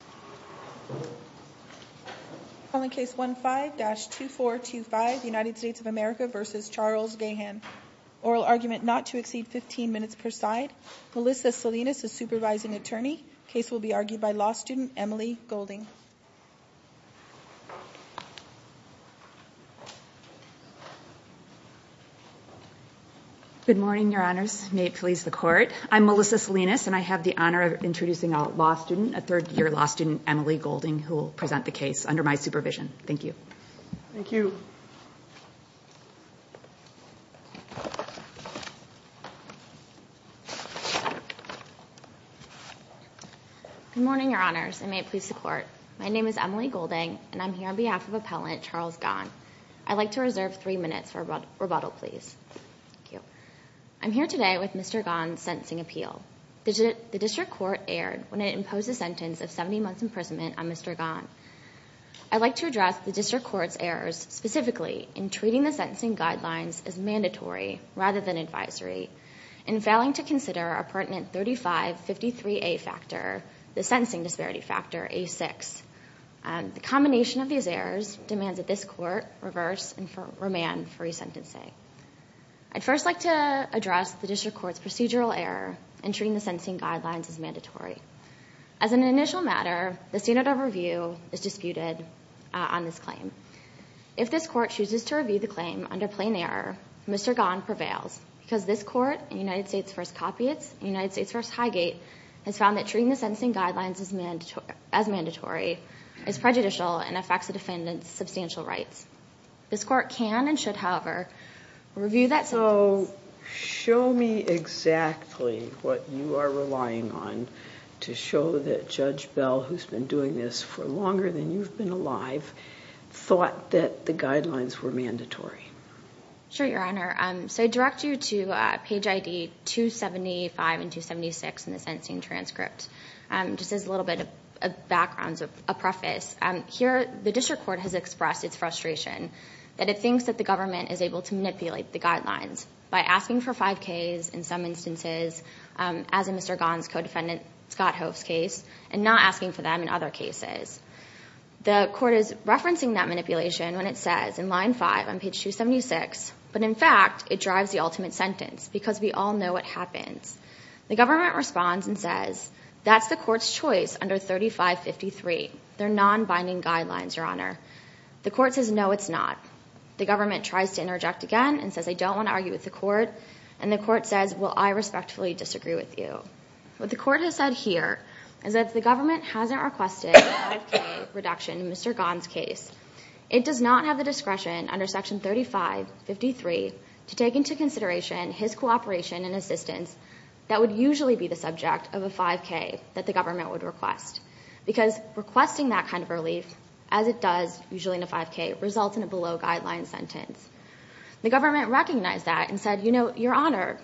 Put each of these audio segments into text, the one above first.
Oral argument not to exceed 15 minutes per side. Melissa Salinas, a supervising attorney. Case will be argued by law student Emily Golding. Good morning, your honors. May it please the court. I'm Melissa Salinas, and I have the honor of introducing a law student, a third year law student. Emily Golding, who will present the case under my supervision. Thank you. Thank you. Good morning, your honors, and may it please the court. My name is Emily Golding, and I'm here on behalf of Appellant Charles Gahan. I'd like to reserve three minutes for rebuttal, please. Thank you. I'm here today with Mr. Gahan's sentencing appeal. The district court erred when it imposed a sentence of 70 months' imprisonment on Mr. Gahan. I'd like to address the district court's errors, specifically in treating the sentencing guidelines as mandatory rather than advisory, in failing to consider a pertinent 3553A factor, the sentencing disparity factor, A6. The combination of these errors demands that this court reverse and remand free sentencing. I'd first like to address the district court's procedural error in treating the sentencing guidelines as mandatory. As an initial matter, the standard of review is disputed on this claim. If this court chooses to review the claim under plain error, Mr. Gahan prevails, because this court, in United States v. Copiates and United States v. Highgate, has found that treating the sentencing guidelines as mandatory is prejudicial and affects the defendant's substantial rights. This court can and should, however, review that sentence. So show me exactly what you are relying on to show that Judge Bell, who's been doing this for longer than you've been alive, thought that the guidelines were mandatory. Sure, Your Honor. So I direct you to page ID 275 and 276 in the sentencing transcript. Just as a little bit of background, a preface. Here, the district court has expressed its frustration that it thinks that the government is able to manipulate the guidelines by asking for 5Ks, in some instances, as in Mr. Gahan's co-defendant, Scott Hoff's case, and not asking for them in other cases. The court is referencing that manipulation when it says in line 5 on page 276, but in fact, it drives the ultimate sentence, because we all know what happens. The government responds and says, that's the court's choice under 3553. They're non-binding guidelines, Your Honor. The court says, no, it's not. The government tries to interject again and says, I don't want to argue with the court, and the court says, well, I respectfully disagree with you. What the court has said here is that if the government hasn't requested a 5K reduction in Mr. Gahan's case, it does not have the discretion under section 3553 to take into consideration his cooperation and assistance that would usually be the subject of a 5K that the government would request, because requesting that kind of relief, as it does usually in a 5K, results in a below-guideline sentence. The government recognized that and said, Your Honor,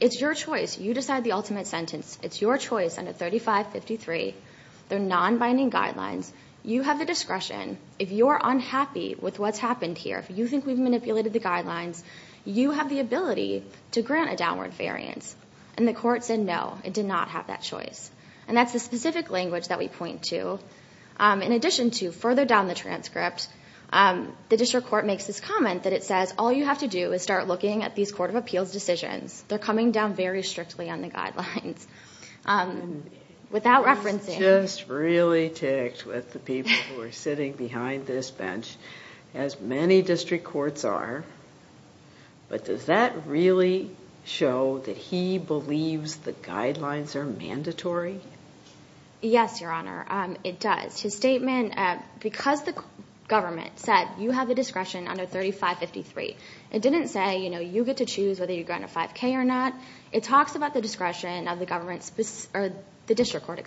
it's your choice. You decide the ultimate sentence. It's your choice under 3553. They're non-binding guidelines. You have the discretion. If you're unhappy with what's happened here, if you think we've manipulated the guidelines, you have the ability to grant a downward variance. And the court said, no, it did not have that choice. And that's the specific language that we point to. In addition to, further down the transcript, the district court makes this comment that it says, all you have to do is start looking at these court of appeals decisions. They're coming down very strictly on the guidelines. Without referencing. He's just really ticked with the people who are sitting behind this bench, as many district courts are. But does that really show that he believes the guidelines are mandatory? Yes, Your Honor. It does. His statement, because the government said, you have the discretion under 3553, it didn't say, you know, you get to choose whether you grant a 5K or not. It talks about the discretion of the district court,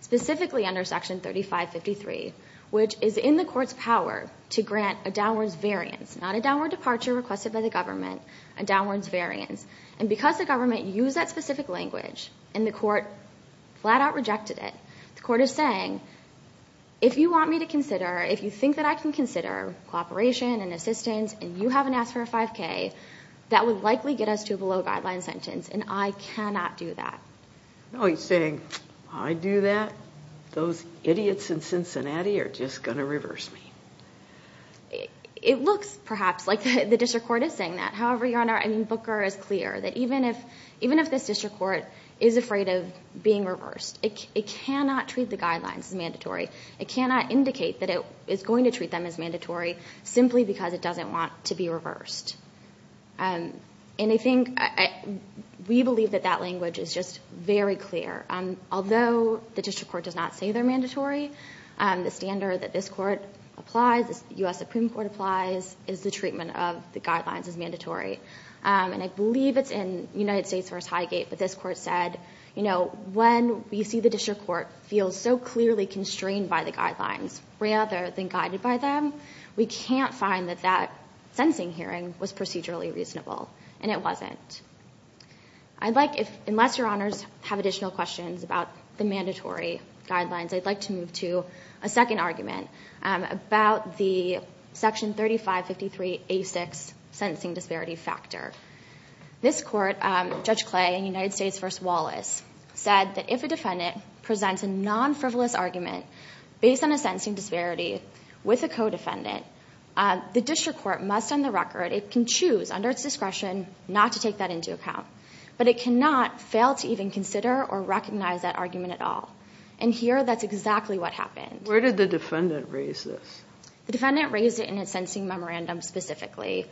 specifically under Section 3553, which is in the court's power to grant a downwards variance. Not a downward departure requested by the government. A downwards variance. And because the government used that specific language, and the court flat out rejected it, the court is saying, if you want me to consider, if you think that I can consider cooperation and assistance, and you haven't asked for a 5K, that would likely get us to a below guideline sentence. And I cannot do that. No, he's saying, I do that? Those idiots in Cincinnati are just going to reverse me. It looks, perhaps, like the district court is saying that. However, Your Honor, I mean, Booker is clear that even if this district court is afraid of being reversed, it cannot treat the guidelines as mandatory. It cannot indicate that it is going to treat them as mandatory simply because it doesn't want to be reversed. And I think we believe that that language is just very clear. Although the district court does not say they're mandatory, the standard that this court applies, the U.S. Supreme Court applies, is the treatment of the guidelines as mandatory. And I believe it's in United States v. Highgate, but this court said, you know, when we see the district court feel so clearly constrained by the guidelines rather than guided by them, we can't find that that sentencing hearing was procedurally reasonable. And it wasn't. I'd like, unless Your Honors have additional questions about the mandatory guidelines, I'd like to move to a second argument about the Section 3553A6 sentencing disparity factor. This court, Judge Clay in United States v. Wallace, said that if a defendant presents a non-frivolous argument based on a sentencing disparity with a co-defendant, the district court must on the record, it can choose under its discretion not to take that into account, but it cannot fail to even consider or recognize that argument at all. And here, that's exactly what happened. Where did the defendant raise this? The defendant raised it in its sentencing memorandum specifically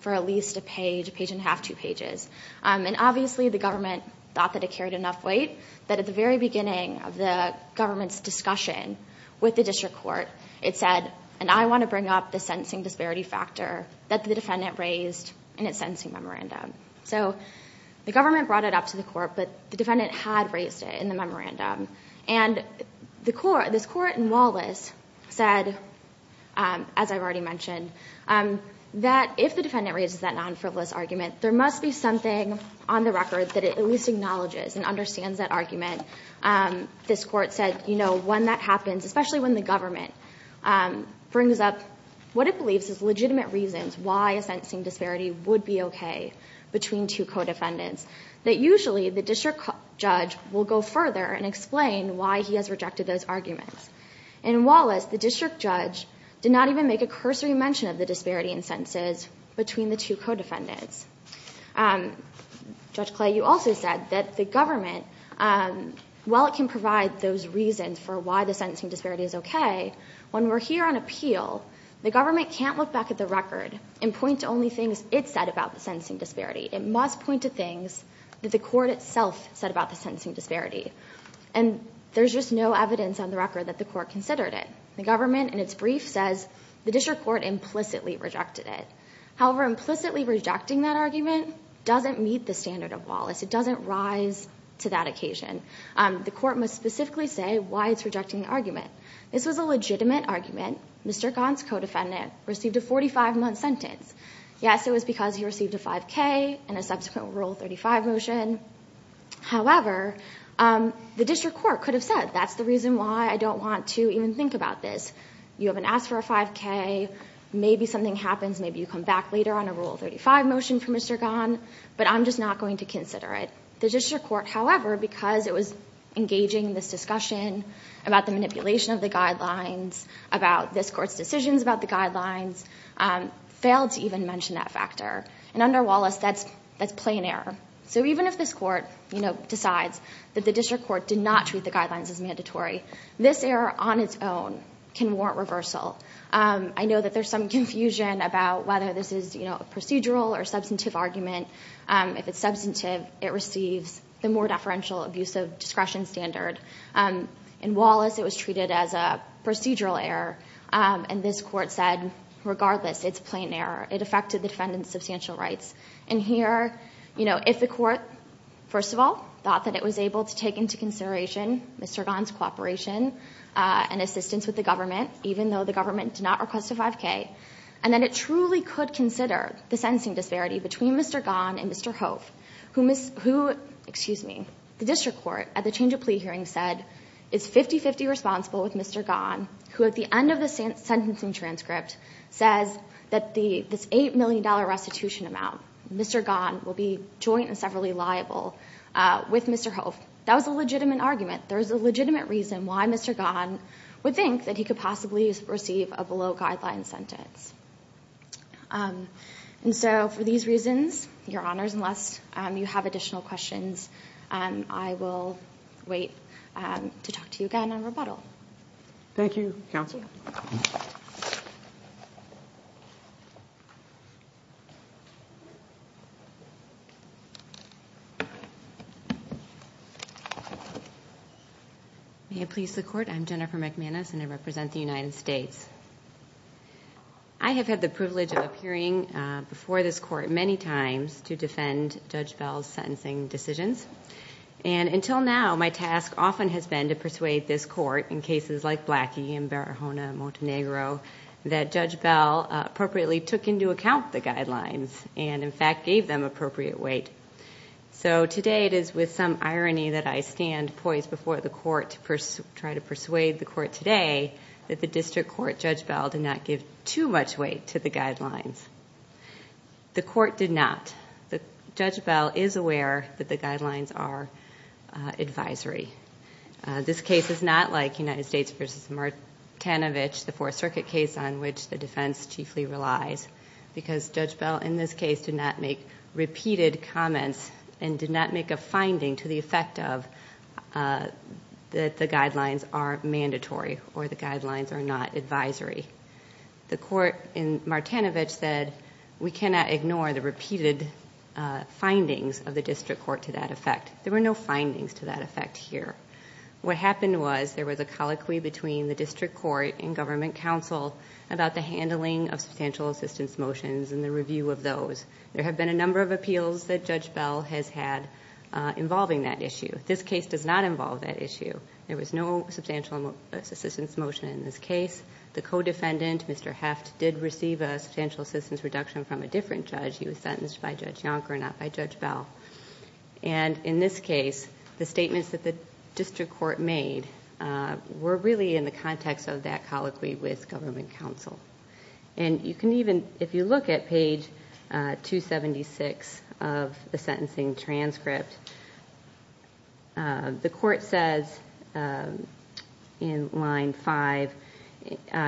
for at least a page, a page and a half, two pages. And obviously the government thought that it carried enough weight that at the very beginning of the government's discussion with the district court, it said, and I want to bring up the sentencing disparity factor that the defendant raised in its sentencing memorandum. So the government brought it up to the court, but the defendant had raised it in the memorandum. And this court in Wallace said, as I've already mentioned, that if the defendant raises that non-frivolous argument, there must be something on the record that it at least acknowledges and understands that argument. This court said, you know, when that happens, especially when the government brings up what it believes is legitimate reasons why a sentencing disparity would be okay between two co-defendants, that usually the district judge will go further and explain why he has rejected those arguments. In Wallace, the district judge did not even make a cursory mention of the disparity in sentences between the two co-defendants. Judge Clay, you also said that the government, while it can provide those reasons for why the sentencing disparity is okay, when we're here on appeal, the government can't look back at the record and point to only things it said about the sentencing disparity. It must point to things that the court itself said about the sentencing disparity. And there's just no evidence on the record that the court considered it. The government, in its brief, says the district court implicitly rejected it. However, implicitly rejecting that argument doesn't meet the standard of Wallace. It doesn't rise to that occasion. The court must specifically say why it's rejecting the argument. This was a legitimate argument. Mr. Gaunt's co-defendant received a 45-month sentence. Yes, it was because he received a 5K and a subsequent Rule 35 motion. However, the district court could have said, that's the reason why I don't want to even think about this. You haven't asked for a 5K. Maybe something happens. Maybe you come back later on a Rule 35 motion from Mr. Gaunt. But I'm just not going to consider it. The district court, however, because it was engaging in this discussion about the manipulation of the guidelines, about this court's decisions about the guidelines, failed to even mention that factor. And under Wallace, that's plain error. So even if this court decides that the district court did not treat the guidelines as mandatory, this error on its own can warrant reversal. I know that there's some confusion about whether this is a procedural or substantive argument. If it's substantive, it receives the more deferential abuse of discretion standard. In Wallace, it was treated as a procedural error. And this court said, regardless, it's plain error. It affected the defendant's substantial rights. And here, if the court, first of all, thought that it was able to take into consideration Mr. Gaunt's cooperation and assistance with the government, even though the government did not request a 5K, and then it truly could consider the sentencing disparity between Mr. Gaunt and Mr. Hove, who the district court at the change of plea hearing said is 50-50 responsible with Mr. Gaunt, who at the end of the sentencing transcript says that this $8 million restitution amount, Mr. Gaunt will be joint and severally liable with Mr. Hove. That was a legitimate argument. There is a legitimate reason why Mr. Gaunt would think that he could possibly receive a below-guideline sentence. And so for these reasons, Your Honors, unless you have additional questions, I will wait to talk to you again on rebuttal. Thank you, counsel. May it please the Court, I'm Jennifer McManus, and I represent the United States. I have had the privilege of appearing before this court many times to defend Judge Bell's sentencing decisions, and until now, my task often has been to persuade this court in cases like Blackie and Barahona and Montenegro that Judge Bell appropriately took into account the guidelines and in fact gave them appropriate weight. So today it is with some irony that I stand poised before the court to try to persuade the court today that the district court Judge Bell did not give too much weight to the guidelines. The court did not. Judge Bell is aware that the guidelines are advisory. This case is not like United States v. Martinovich, the Fourth Circuit case on which the defense chiefly relies, because Judge Bell in this case did not make repeated comments and did not make a finding to the effect of that the guidelines are mandatory or the guidelines are not advisory. The court in Martinovich said we cannot ignore the repeated findings of the district court to that effect. There were no findings to that effect here. What happened was there was a colloquy between the district court and government counsel about the handling of substantial assistance motions and the review of those. There have been a number of appeals that Judge Bell has had involving that issue. This case does not involve that issue. There was no substantial assistance motion in this case. The co-defendant, Mr. Heft, did receive a substantial assistance reduction from a different judge. He was sentenced by Judge Yonker, not by Judge Bell. In this case, the statements that the district court made were really in the context of that colloquy with government counsel. If you look at page 276 of the sentencing transcript, the court says in line 5,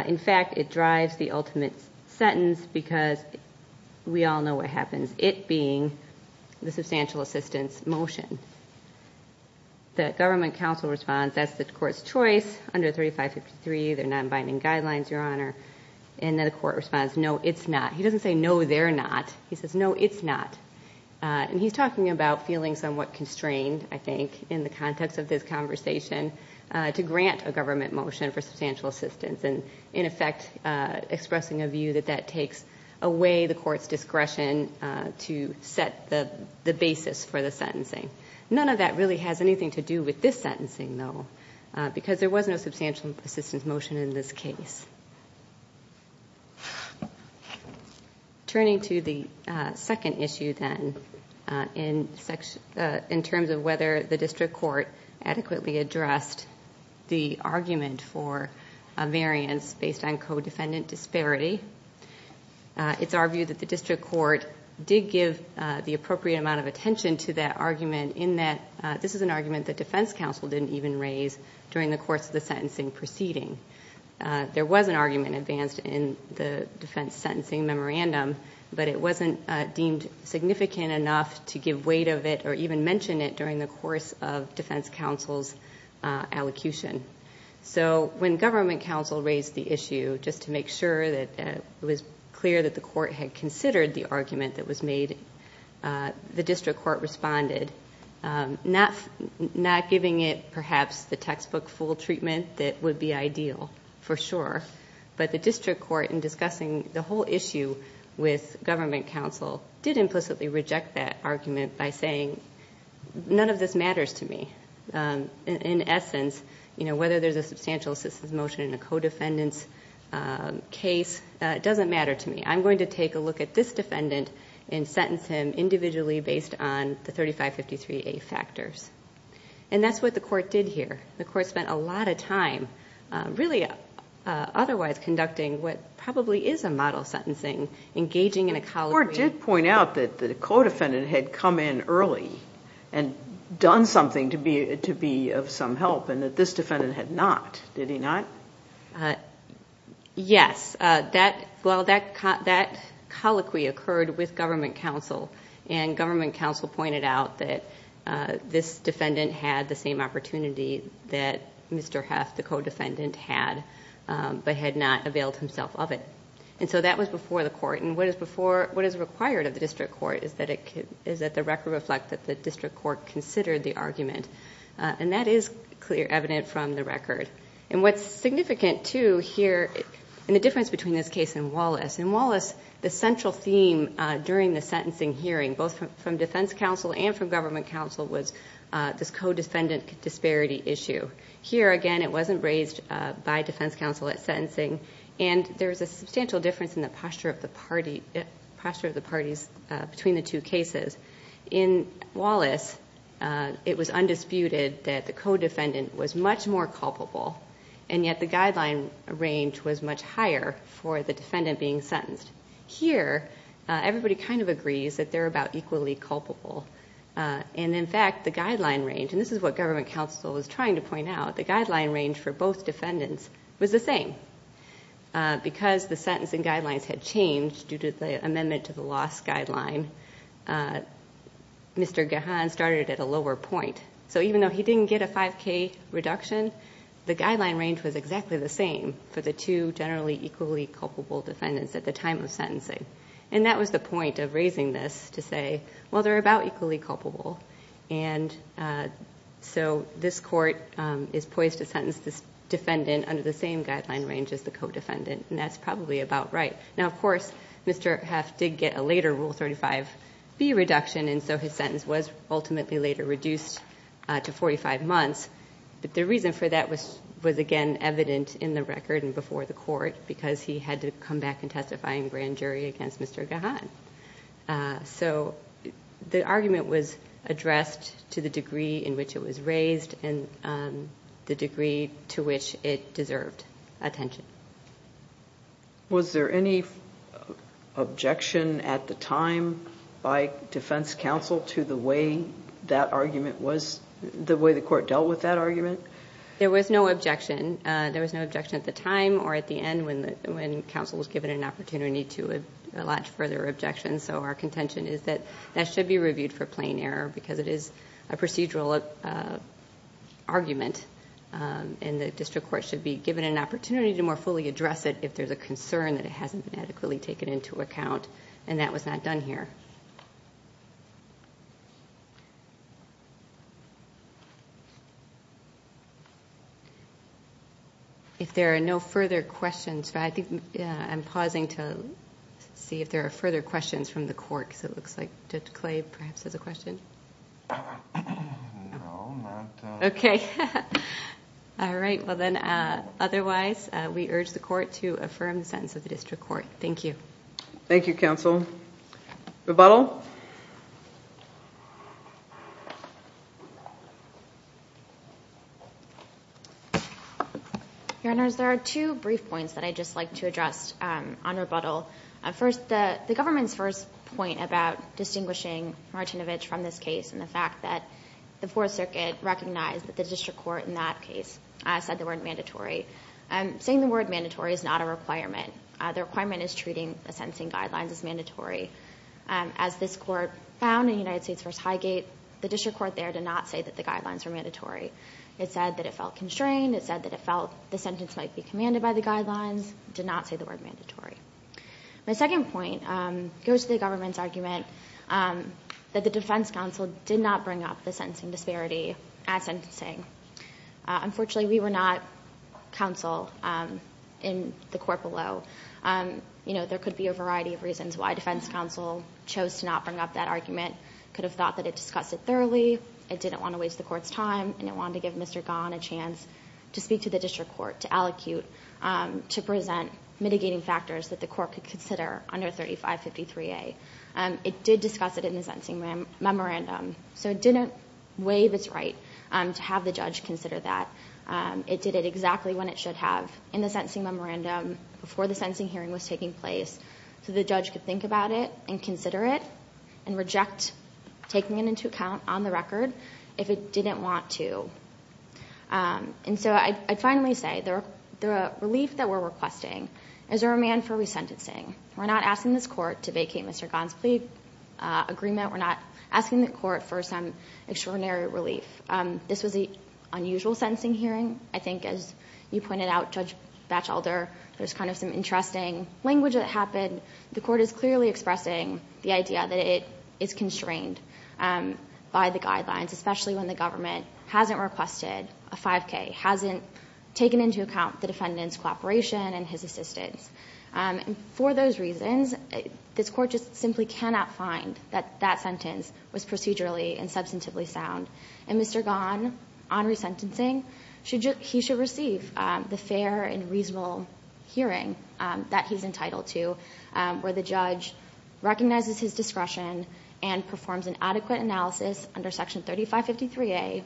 in fact, it drives the ultimate sentence because we all know what happens, it being the substantial assistance motion. The government counsel responds, that's the court's choice under 3553. They're not abiding guidelines, Your Honor. And then the court responds, no, it's not. He doesn't say, no, they're not. He says, no, it's not. And he's talking about feeling somewhat constrained, I think, in the context of this conversation to grant a government motion for substantial assistance and, in effect, expressing a view that that takes away the court's discretion to set the basis for the sentencing. None of that really has anything to do with this sentencing, though, because there was no substantial assistance motion in this case. Turning to the second issue, then, in terms of whether the district court adequately addressed the argument for a variance based on co-defendant disparity, it's argued that the district court did give the appropriate amount of attention to that argument in that this is an argument that defense counsel didn't even raise during the course of the sentencing proceeding. There was an argument advanced in the defense sentencing memorandum, but it wasn't deemed significant enough to give weight of it or even mention it during the course of defense counsel's allocution. So when government counsel raised the issue, just to make sure that it was clear that the court had considered the argument that was made, the district court responded, not giving it, perhaps, the textbook full treatment that would be ideal, for sure, but the district court, in discussing the whole issue with government counsel, did implicitly reject that argument by saying, none of this matters to me. In essence, whether there's a substantial assistance motion in a co-defendant's case doesn't matter to me. I'm going to take a look at this defendant and sentence him individually based on the 3553A factors. And that's what the court did here. The court spent a lot of time really otherwise conducting what probably is a model sentencing, engaging in a colloquy. The court did point out that the co-defendant had come in early and done something to be of some help and that this defendant had not. Did he not? Yes. Well, that colloquy occurred with government counsel, and government counsel pointed out that this defendant had the same opportunity that Mr. Heff, the co-defendant, had, but had not availed himself of it. And so that was before the court. And what is required of the district court is that the record reflect that the district court considered the argument. And that is clear evidence from the record. And what's significant, too, here, and the difference between this case and Wallace. In Wallace, the central theme during the sentencing hearing, both from defense counsel and from government counsel, was this co-defendant disparity issue. Here, again, it wasn't raised by defense counsel at sentencing, and there is a substantial difference in the posture of the parties between the two cases. In Wallace, it was undisputed that the co-defendant was much more culpable, and yet the guideline range was much higher for the defendant being sentenced. Here, everybody kind of agrees that they're about equally culpable. And, in fact, the guideline range, and this is what government counsel was trying to point out, the guideline range for both defendants was the same. Because the sentencing guidelines had changed due to the amendment to the loss guideline, Mr. Gahan started at a lower point. So even though he didn't get a 5K reduction, the guideline range was exactly the same for the two generally equally culpable defendants at the time of sentencing. And that was the point of raising this, to say, well, they're about equally culpable. And so this court is poised to sentence this defendant under the same guideline range as the co-defendant, and that's probably about right. Now, of course, Mr. Heff did get a later Rule 35B reduction, and so his sentence was ultimately later reduced to 45 months. But the reason for that was, again, evident in the record and before the court because he had to come back and testify in grand jury against Mr. Gahan. So the argument was addressed to the degree in which it was raised and the degree to which it deserved attention. Was there any objection at the time by defense counsel to the way that argument was the way the court dealt with that argument? There was no objection. There was no objection at the time or at the end when counsel was given an opportunity to allot further objections. So our contention is that that should be reviewed for plain error because it is a procedural argument, and the district court should be given an opportunity to more fully address it if there's a concern that it hasn't been adequately taken into account, and that was not done here. If there are no further questions, I think I'm pausing to see if there are further questions from the court, because it looks like Judge Clay perhaps has a question. No, not that. Okay. All right. Well, then, otherwise, we urge the court to affirm the sentence of the district court. Thank you. Thank you, counsel. Rebuttal? Your Honors, there are two brief points that I'd just like to address on rebuttal. First, the government's first point about distinguishing Martinovich from this case and the fact that the Fourth Circuit recognized that the district court in that case said the word mandatory. Saying the word mandatory is not a requirement. The requirement is treating the sentencing guidelines as mandatory. As this court found in United States v. Highgate, the district court there did not say that the guidelines were mandatory. It said that it felt constrained. It did not say the word mandatory. My second point goes to the government's argument that the defense counsel did not bring up the sentencing disparity at sentencing. Unfortunately, we were not counsel in the court below. There could be a variety of reasons why defense counsel chose to not bring up that argument. It could have thought that it discussed it thoroughly, it didn't want to waste the court's time, and it wanted to give Mr. Gahan a chance to speak to the district court, to allocute, to present mitigating factors that the court could consider under 3553A. It did discuss it in the sentencing memorandum, so it didn't waive its right to have the judge consider that. It did it exactly when it should have, in the sentencing memorandum, before the sentencing hearing was taking place, so the judge could think about it and consider it and reject taking it into account on the record if it didn't want to. I'd finally say the relief that we're requesting is a remand for resentencing. We're not asking this court to vacate Mr. Gahan's plea agreement. We're not asking the court for some extraordinary relief. This was an unusual sentencing hearing. I think, as you pointed out, Judge Batchelder, there's kind of some interesting language that happened. The court is clearly expressing the idea that it is constrained by the guidelines, especially when the government hasn't requested a 5K, hasn't taken into account the defendant's cooperation and his assistance. For those reasons, this court just simply cannot find that that sentence was procedurally and substantively sound, and Mr. Gahan, on resentencing, he should receive the fair and reasonable hearing that he's entitled to, where the judge recognizes his discretion and performs an adequate analysis under Section 3553A,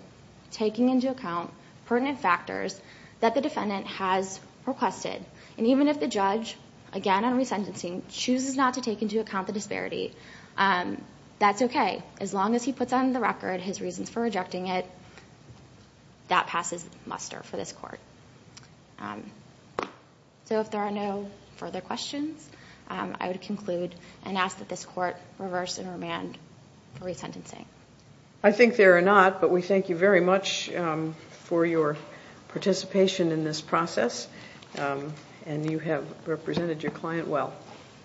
taking into account pertinent factors that the defendant has requested. Even if the judge, again on resentencing, chooses not to take into account the disparity, that's okay. As long as he puts on the record his reasons for rejecting it, that passes muster for this court. So if there are no further questions, I would conclude and ask that this court reverse and remand the resentencing. I think there are not, but we thank you very much for your participation in this process, and you have represented your client well.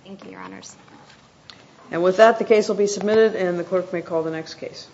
Thank you, Your Honors. And with that, the case will be submitted, and the clerk may call the next case.